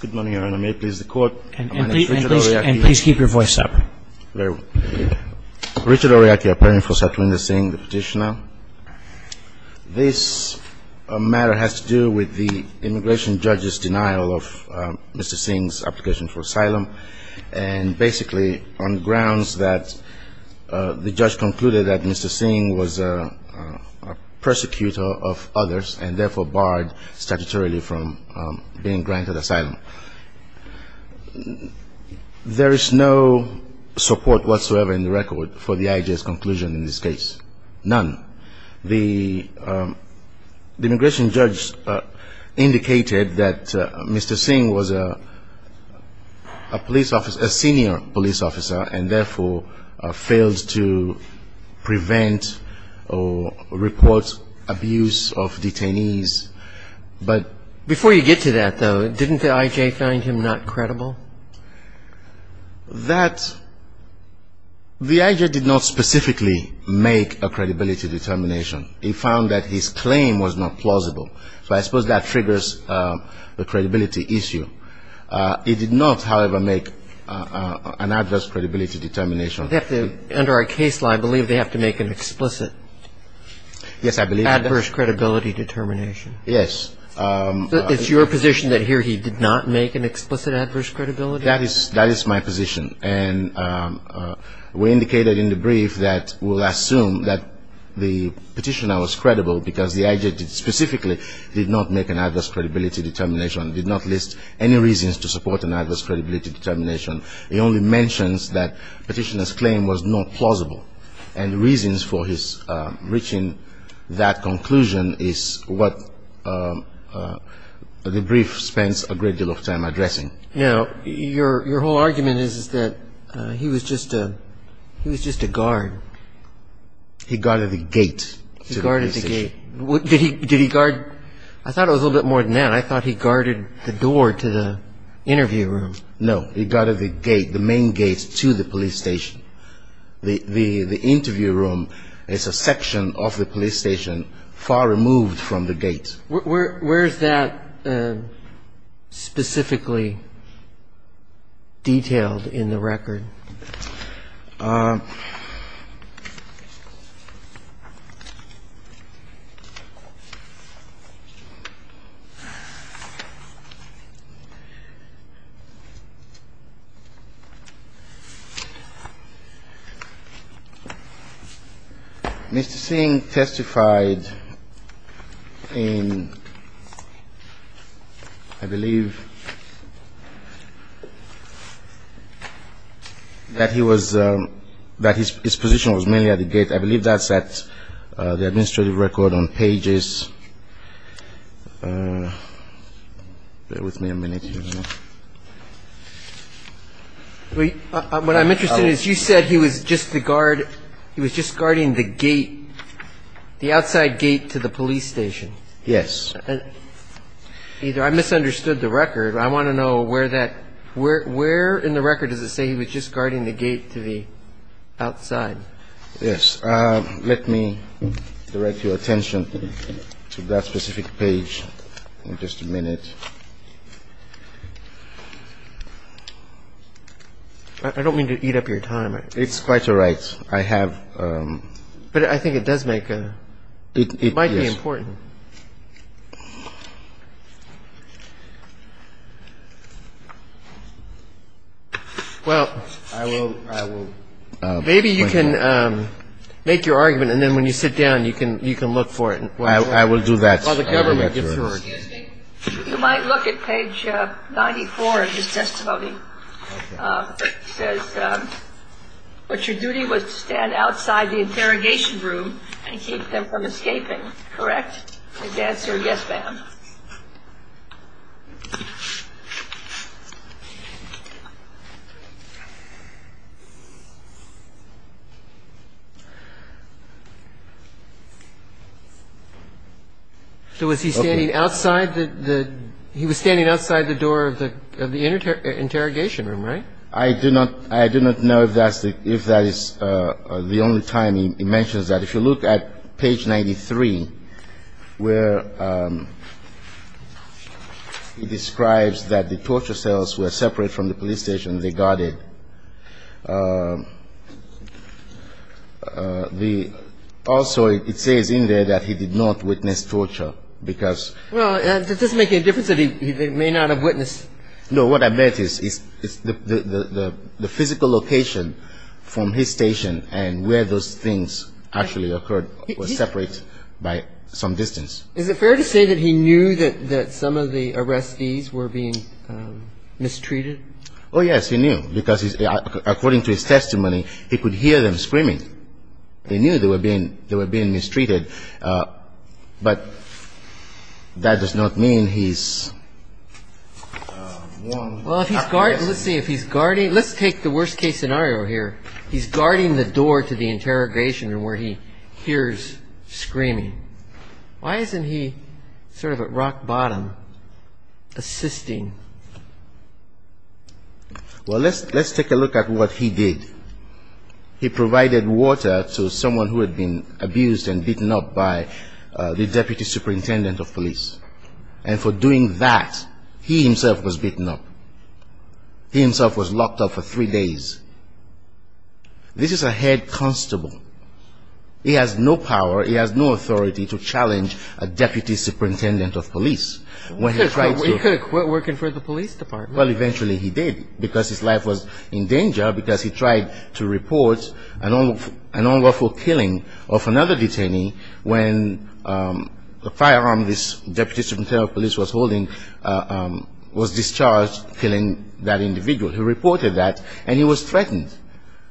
Good morning, Your Honor. May it please the Court, my name is Richard Oryaki. And please keep your voice up. Very well. Richard Oryaki, I'm pleading for settlement of Singh, the petitioner. This matter has to do with the immigration judge's denial of Mr. Singh's application for asylum, and basically on grounds that the judge concluded that Mr. Singh was a persecutor of others and therefore barred statutorily from being granted asylum. There is no support whatsoever in the record for the IJ's conclusion in this case, none. The immigration judge indicated that Mr. Singh was a police officer, a senior police officer, and therefore failed to prevent or report abuse of detainees. But before you get to that, though, didn't the IJ find him not credible? That the IJ did not specifically make a credibility determination. It found that his claim was not plausible. So I suppose that triggers the credibility issue. It did not, however, make an adverse credibility determination. Under our case law, I believe they have to make an explicit adverse credibility determination. Yes. It's your position that here he did not make an explicit adverse credibility determination? That is my position. And we indicated in the brief that we'll assume that the petitioner was credible because the IJ specifically did not make an adverse credibility determination, did not list any reasons to support an adverse credibility determination. It only mentions that the petitioner's claim was not plausible. And the reasons for his reaching that conclusion is what the brief spends a great deal of time addressing. Now, your whole argument is that he was just a guard. He guarded the gate. He guarded the gate. Did he guard – I thought it was a little bit more than that. I thought he guarded the door to the interview room. No. He guarded the gate, the main gate to the police station. The interview room is a section of the police station far removed from the gate. Where is that specifically detailed in the record? Mr. Singh testified in, I believe, that he was – that his position was mainly at the gate. I believe that's at the administrative record on pages. Bear with me a minute here. What I'm interested in is you said he was just the guard. He was just guarding the gate, the outside gate to the police station. Yes. I misunderstood the record. I want to know where that – where in the record does it say he was just guarding the gate to the outside? Yes. Let me direct your attention to that specific page in just a minute. I don't mean to eat up your time. It's quite all right. I have – But I think it does make – It might be important. Well, maybe you can make your argument, and then when you sit down, you can look for it. I will do that. While the government gets to work. So was he standing outside the – he was standing outside the door of the interrogation room? Yes. I do not – I do not know if that's the – if that is the only time he mentions that. If you look at page 93, where he describes that the torture cells were separate from the police station. They guarded. Also, it says in there that he did not witness torture because – Well, does it make any difference that he may not have witnessed – No, what I meant is the physical location from his station and where those things actually occurred were separate by some distance. Is it fair to say that he knew that some of the arrestees were being mistreated? Oh, yes, he knew, because according to his testimony, he could hear them screaming. He knew they were being mistreated. But that does not mean he's – Well, if he's – let's see, if he's guarding – let's take the worst-case scenario here. He's guarding the door to the interrogation room where he hears screaming. Why isn't he sort of at rock bottom, assisting? Well, let's take a look at what he did. He provided water to someone who had been abused and beaten up by the deputy superintendent of police. And for doing that, he himself was beaten up. He himself was locked up for three days. This is a head constable. He has no power, he has no authority to challenge a deputy superintendent of police when he tried to – He could have quit working for the police department. Well, eventually he did, because his life was in danger because he tried to report an unlawful killing of another detainee when the firearm this deputy superintendent of police was holding was discharged, killing that individual. He reported that, and he was threatened.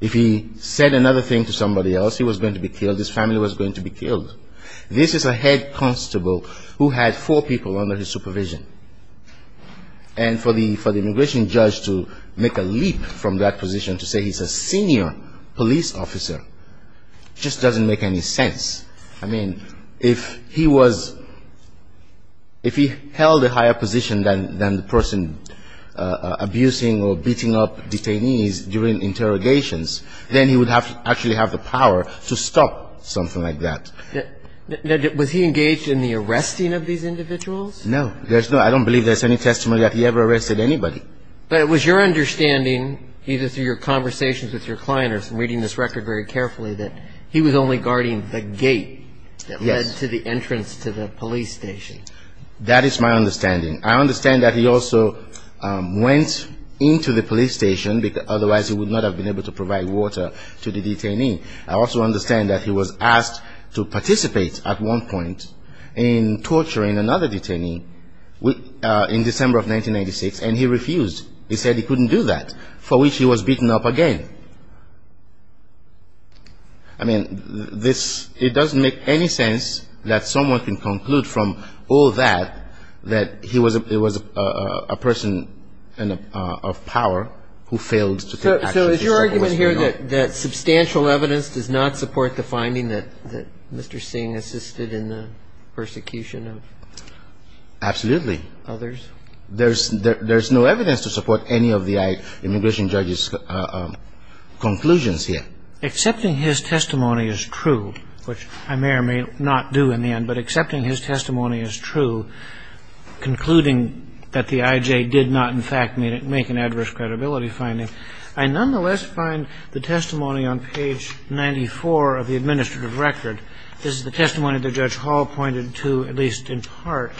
If he said another thing to somebody else, he was going to be killed, his family was going to be killed. This is a head constable who had four people under his supervision. And for the immigration judge to make a leap from that position to say he's a senior police officer just doesn't make any sense. I mean, if he was – if he held a higher position than the person abusing or beating up detainees during interrogations, then he would have to actually have the power to stop something like that. Was he engaged in the arresting of these individuals? No. There's no – I don't believe there's any testimony that he ever arrested anybody. But it was your understanding, either through your conversations with your client or from reading this record very carefully, that he was only guarding the gate that led to the entrance to the police station. That is my understanding. I understand that he also went into the police station, otherwise he would not have been able to provide water to the detainee. I also understand that he was asked to participate at one point in torturing another detainee in December of 1996, and he refused. He said he couldn't do that, for which he was beaten up again. I mean, this – it doesn't make any sense that someone can conclude from all that, that he was a person of power who failed to take action. So is your argument here that substantial evidence does not support the finding that Mr. Singh assisted in the persecution of others? Absolutely. There's no evidence to support any of the immigration judge's conclusions here. Accepting his testimony is true, which I may or may not do in the end, but accepting his testimony is true, concluding that the I.J. did not, in fact, make an adverse credibility finding, I nonetheless find the testimony on page 94 of the administrative record. This is the testimony that Judge Hall pointed to, at least in part.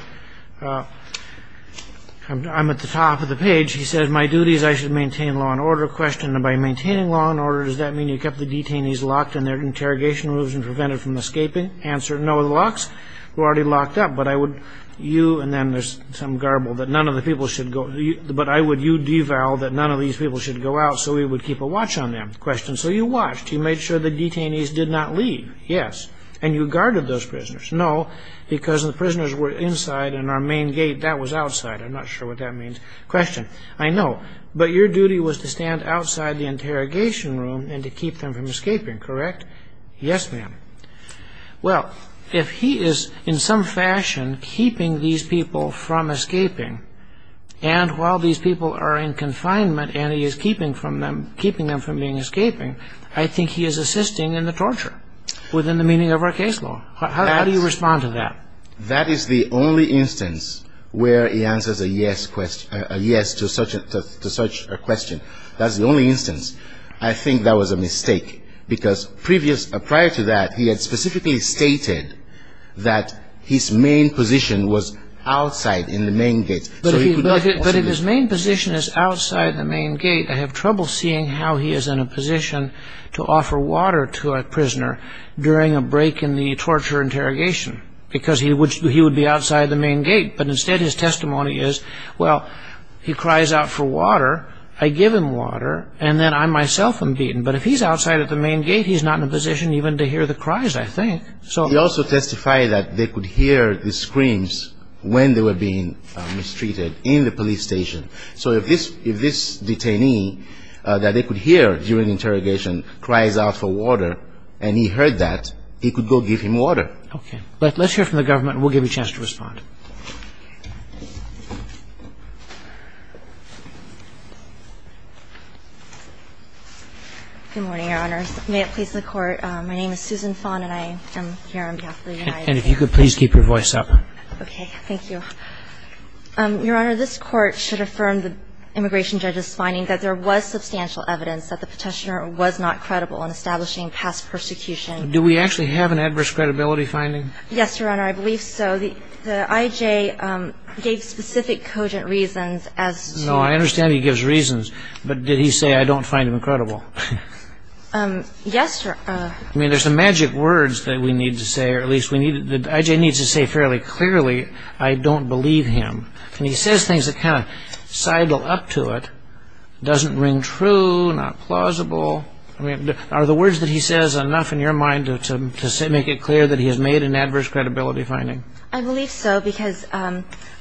I'm at the top of the page. He says, My duty is I should maintain law and order. Question, by maintaining law and order, does that mean you kept the detainees locked in their interrogation rooms and prevented them from escaping? Answer, no. The locks were already locked up, but I would you – and then there's some garble – but I would you devalue that none of these people should go out so we would keep a watch on them. Question, so you watched. You made sure the detainees did not leave. Yes. And you guarded those prisoners. No, because the prisoners were inside and our main gate, that was outside. I'm not sure what that means. Question, I know, but your duty was to stand outside the interrogation room and to keep them from escaping, correct? Yes, ma'am. Well, if he is in some fashion keeping these people from escaping, and while these people are in confinement and he is keeping them from being escaping, I think he is assisting in the torture within the meaning of our case law. How do you respond to that? That is the only instance where he answers a yes to such a question. But if his main position is outside the main gate, I have trouble seeing how he is in a position to offer water to a prisoner during a break in the torture interrogation because he would be outside the main gate. But instead his testimony is, well, he cries out for water, I give him water, and then I myself am beaten. But if he is outside the main gate, he is not in a position even to hear the cries, I think. He also testified that they could hear the screams when they were being mistreated in the police station. So if this detainee that they could hear during interrogation cries out for water and he heard that, he could go give him water. Okay. Let's hear from the government and we'll give you a chance to respond. Good morning, Your Honor. May it please the Court. My name is Susan Fon and I am here on behalf of the United States. And if you could please keep your voice up. Okay. Thank you. Your Honor, this Court should affirm the immigration judge's finding that there was substantial evidence that the petitioner was not credible in establishing past persecution. Do we actually have an adverse credibility finding? Yes, Your Honor, I believe so. The I.J. gave specific cogent reasons as to No, I understand he gives reasons, but did he say, I don't find him credible? Yes, Your Honor. I mean, there's some magic words that we need to say, or at least the I.J. needs to say fairly clearly, I don't believe him. And he says things that kind of sidle up to it, doesn't ring true, not plausible. I mean, are the words that he says enough in your mind to make it clear that he has made an adverse credibility finding? I believe so, because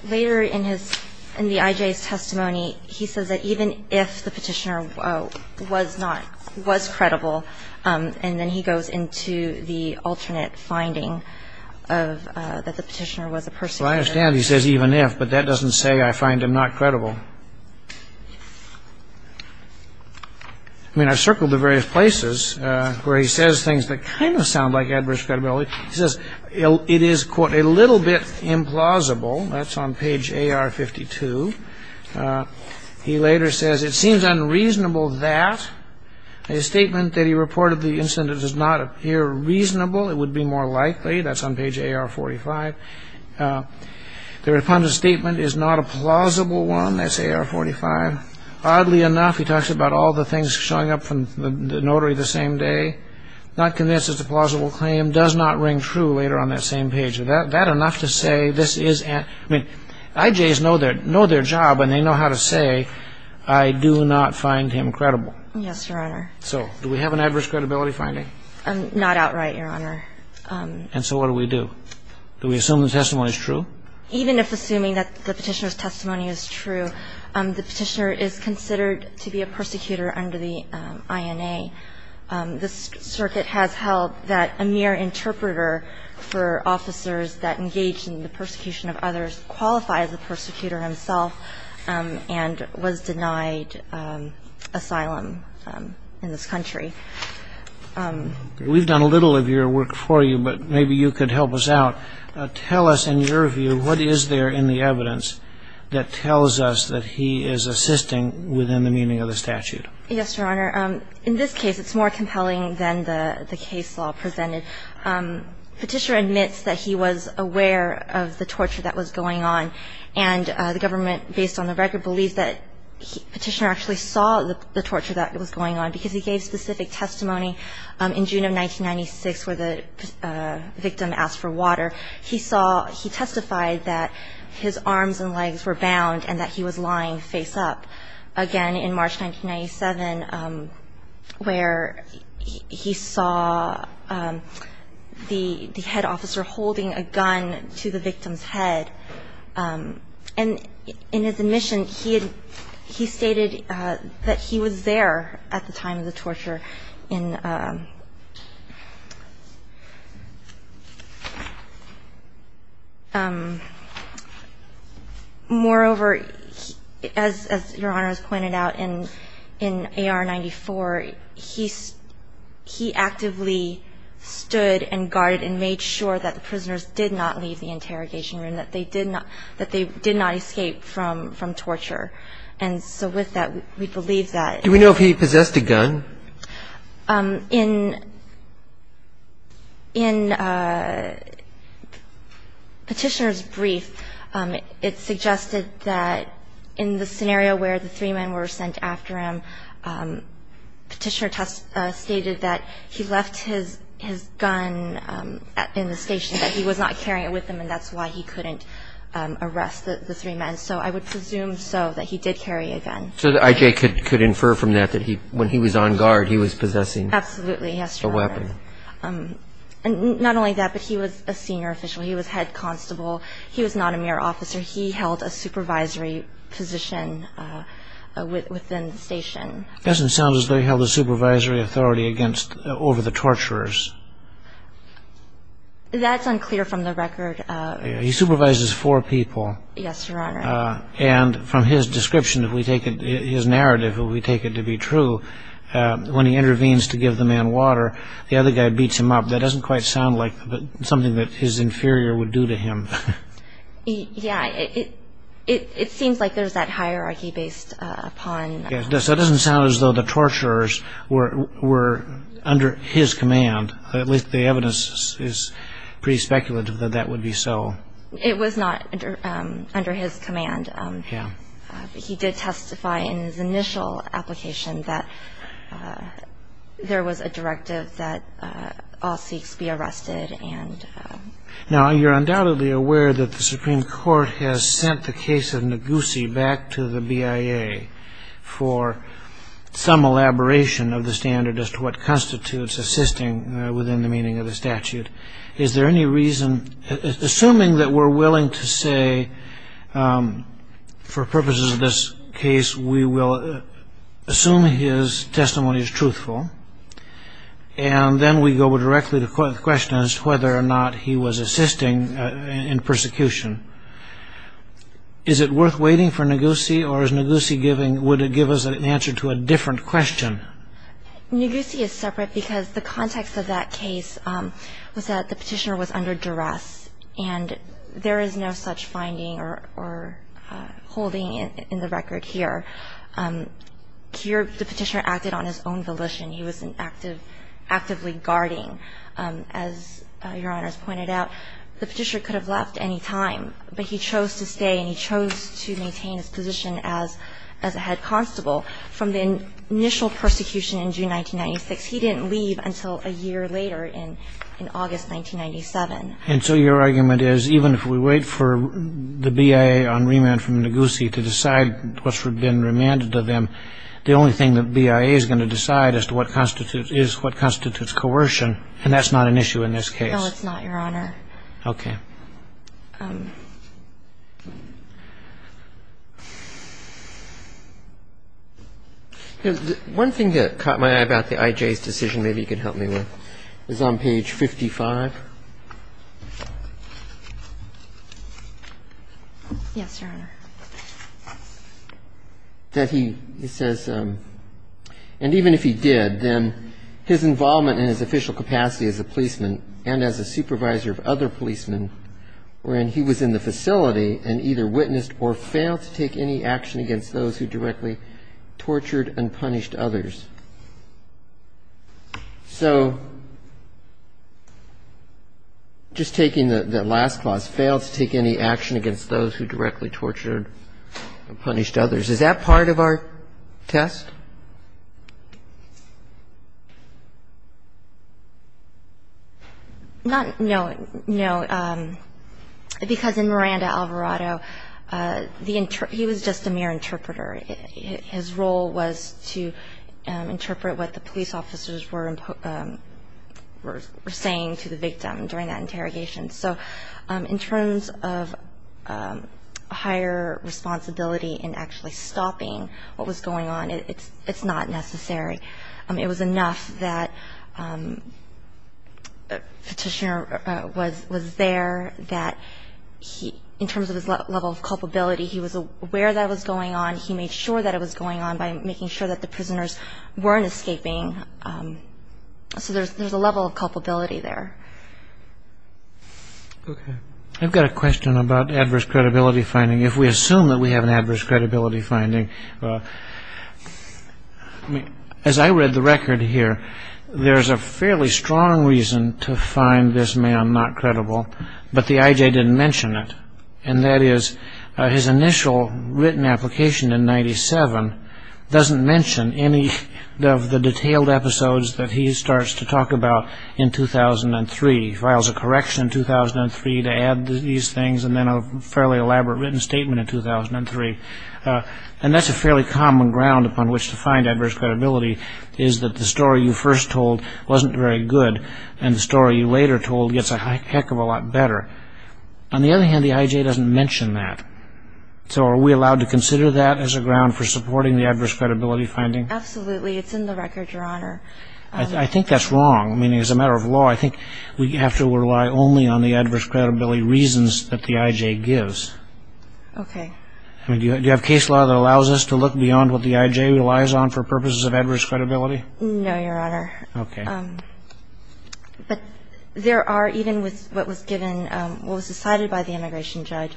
later in the I.J.'s testimony, he says that even if the petitioner was not, was credible, and then he goes into the alternate finding of that the petitioner was a person who Well, I understand he says even if, but that doesn't say I find him not credible. I mean, I've circled the various places where he says things that kind of sound like adverse credibility. He says it is, quote, a little bit implausible. That's on page A.R. 52. He later says it seems unreasonable that a statement that he reported the incident does not appear reasonable. It would be more likely. That's on page A.R. 45. The refunded statement is not a plausible one. That's A.R. 45. Oddly enough, he talks about all the things showing up from the notary the same day, not convinced it's a plausible claim, does not ring true later on that same page. Is that enough to say this is, I mean, I.J.'s know their job, and they know how to say I do not find him credible. Yes, Your Honor. So do we have an adverse credibility finding? Not outright, Your Honor. And so what do we do? Do we assume the testimony is true? Even if assuming that the petitioner's testimony is true, the petitioner is considered to be a persecutor under the INA. This circuit has held that a mere interpreter for officers that engage in the persecution of others qualifies as a persecutor himself and was denied asylum in this country. We've done a little of your work for you, but maybe you could help us out. Tell us, in your view, what is there in the evidence that tells us that he is assisting within the meaning of the statute? Yes, Your Honor. In this case, it's more compelling than the case law presented. Petitioner admits that he was aware of the torture that was going on, and the government, based on the record, believes that Petitioner actually saw the torture that was going on because he gave specific testimony in June of 1996 where the victim asked for water. He saw he testified that his arms and legs were bound and that he was lying face up. Again, in March 1997, where he saw the head officer holding a gun to the victim's head. And in his admission, he stated that he was there at the time of the torture. Moreover, as Your Honor has pointed out, in AR-94, he actively stood and guarded and made sure that the prisoners did not leave the interrogation room, that they did not escape from torture. And so with that, we believe that. Do we know if he possessed a gun? In Petitioner's brief, it suggested that in the scenario where the three men were sent after him, Petitioner stated that he left his gun in the station, that he was not carrying it with him, and that's why he couldn't arrest the three men. So I would presume so, that he did carry a gun. So that I.J. could infer from that that when he was on guard, he was possessing a weapon. Absolutely, yes, Your Honor. And not only that, but he was a senior official. He was head constable. He was not a mere officer. He held a supervisory position within the station. It doesn't sound as though he held a supervisory authority over the torturers. That's unclear from the record. He supervises four people. Yes, Your Honor. And from his description, if we take his narrative, if we take it to be true, when he intervenes to give the man water, the other guy beats him up. That doesn't quite sound like something that his inferior would do to him. Yeah, it seems like there's that hierarchy based upon. It doesn't sound as though the torturers were under his command. At least the evidence is pretty speculative that that would be so. It was not under his command. Yeah. He did testify in his initial application that there was a directive that all Sikhs be arrested. Now, you're undoubtedly aware that the Supreme Court has sent the case of Ngozi back to the BIA for some elaboration of the standard as to what constitutes assisting within the meaning of the statute. Is there any reason, assuming that we're willing to say, for purposes of this case, And then we go directly to the question as to whether or not he was assisting in persecution. Is it worth waiting for Ngozi, or would it give us an answer to a different question? Ngozi is separate because the context of that case was that the petitioner was under duress, and there is no such finding or holding in the record here. The petitioner acted on his own volition. He was actively guarding. As Your Honor has pointed out, the petitioner could have left any time, but he chose to stay and he chose to maintain his position as a head constable. From the initial persecution in June 1996, he didn't leave until a year later in August 1997. And so your argument is even if we wait for the BIA on remand from Ngozi to decide what's been remanded to them, the only thing the BIA is going to decide as to what constitutes coercion, and that's not an issue in this case. No, it's not, Your Honor. Okay. One thing that caught my eye about the IJ's decision, maybe you can help me with, is on page 55. Yes, Your Honor. That he says, and even if he did, then his involvement in his official capacity as a policeman and as a supervisor of other policemen when he was in the facility and either witnessed or failed to take any action against those who directly tortured and punished others. So just taking the last clause, failed to take any action against those who directly tortured and punished others. Is that part of our test? No, because in Miranda Alvarado, he was just a mere interpreter. His role was to interpret what the police officers were saying to the victim during that interrogation. So in terms of higher responsibility in actually stopping what was going on, it's not necessary. It was enough that the petitioner was there, that in terms of his level of culpability, he was aware that was going on, he made sure that it was going on by making sure that the prisoners weren't escaping. So there's a level of culpability there. Okay. I've got a question about adverse credibility finding. If we assume that we have an adverse credibility finding, as I read the record here, there's a fairly strong reason to find this man not credible, but the IJ didn't mention it. And that is his initial written application in 97 doesn't mention any of the detailed episodes that he starts to talk about in 2003. He files a correction in 2003 to add these things, and then a fairly elaborate written statement in 2003. And that's a fairly common ground upon which to find adverse credibility, is that the story you first told wasn't very good, and the story you later told gets a heck of a lot better. On the other hand, the IJ doesn't mention that. So are we allowed to consider that as a ground for supporting the adverse credibility finding? Absolutely. It's in the record, Your Honor. I think that's wrong. I mean, as a matter of law, I think we have to rely only on the adverse credibility reasons that the IJ gives. Okay. I mean, do you have case law that allows us to look beyond what the IJ relies on for purposes of adverse credibility? No, Your Honor. Okay. But there are, even with what was given, what was decided by the immigration judge,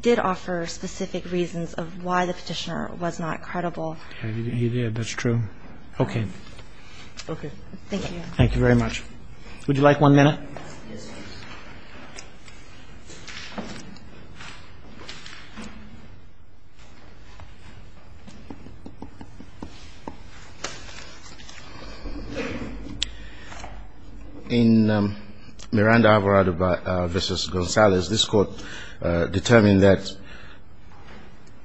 did offer specific reasons of why the Petitioner was not credible. He did. That's true. Okay. Okay. Thank you. Thank you very much. Would you like one minute? Yes, please. In Miranda-Alvarado v. Gonzalez, this Court determined that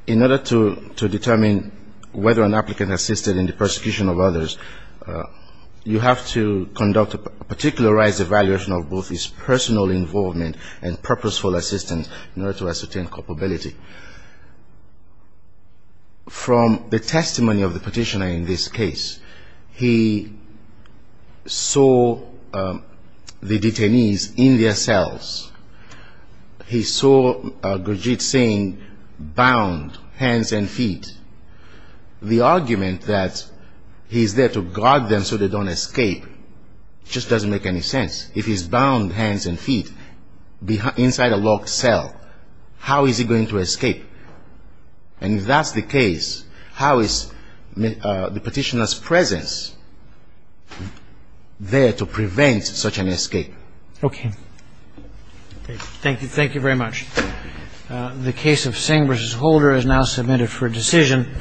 in order to determine whether an applicant assisted in the persecution of others, you have to conduct a particularized evaluation of both his personal involvement and purposeful assistance in order to ascertain culpability. From the testimony of the Petitioner in this case, he saw the detainees in their cells. He saw Gurdjieff saying, bound, hands and feet. The argument that he's there to guard them so they don't escape just doesn't make any sense. If he's bound hands and feet inside a locked cell, how is he going to escape? And if that's the case, how is the Petitioner's presence there to prevent such an escape? Okay. Okay. Thank you. Thank you very much. The case of Singh v. Holder is now submitted for decision.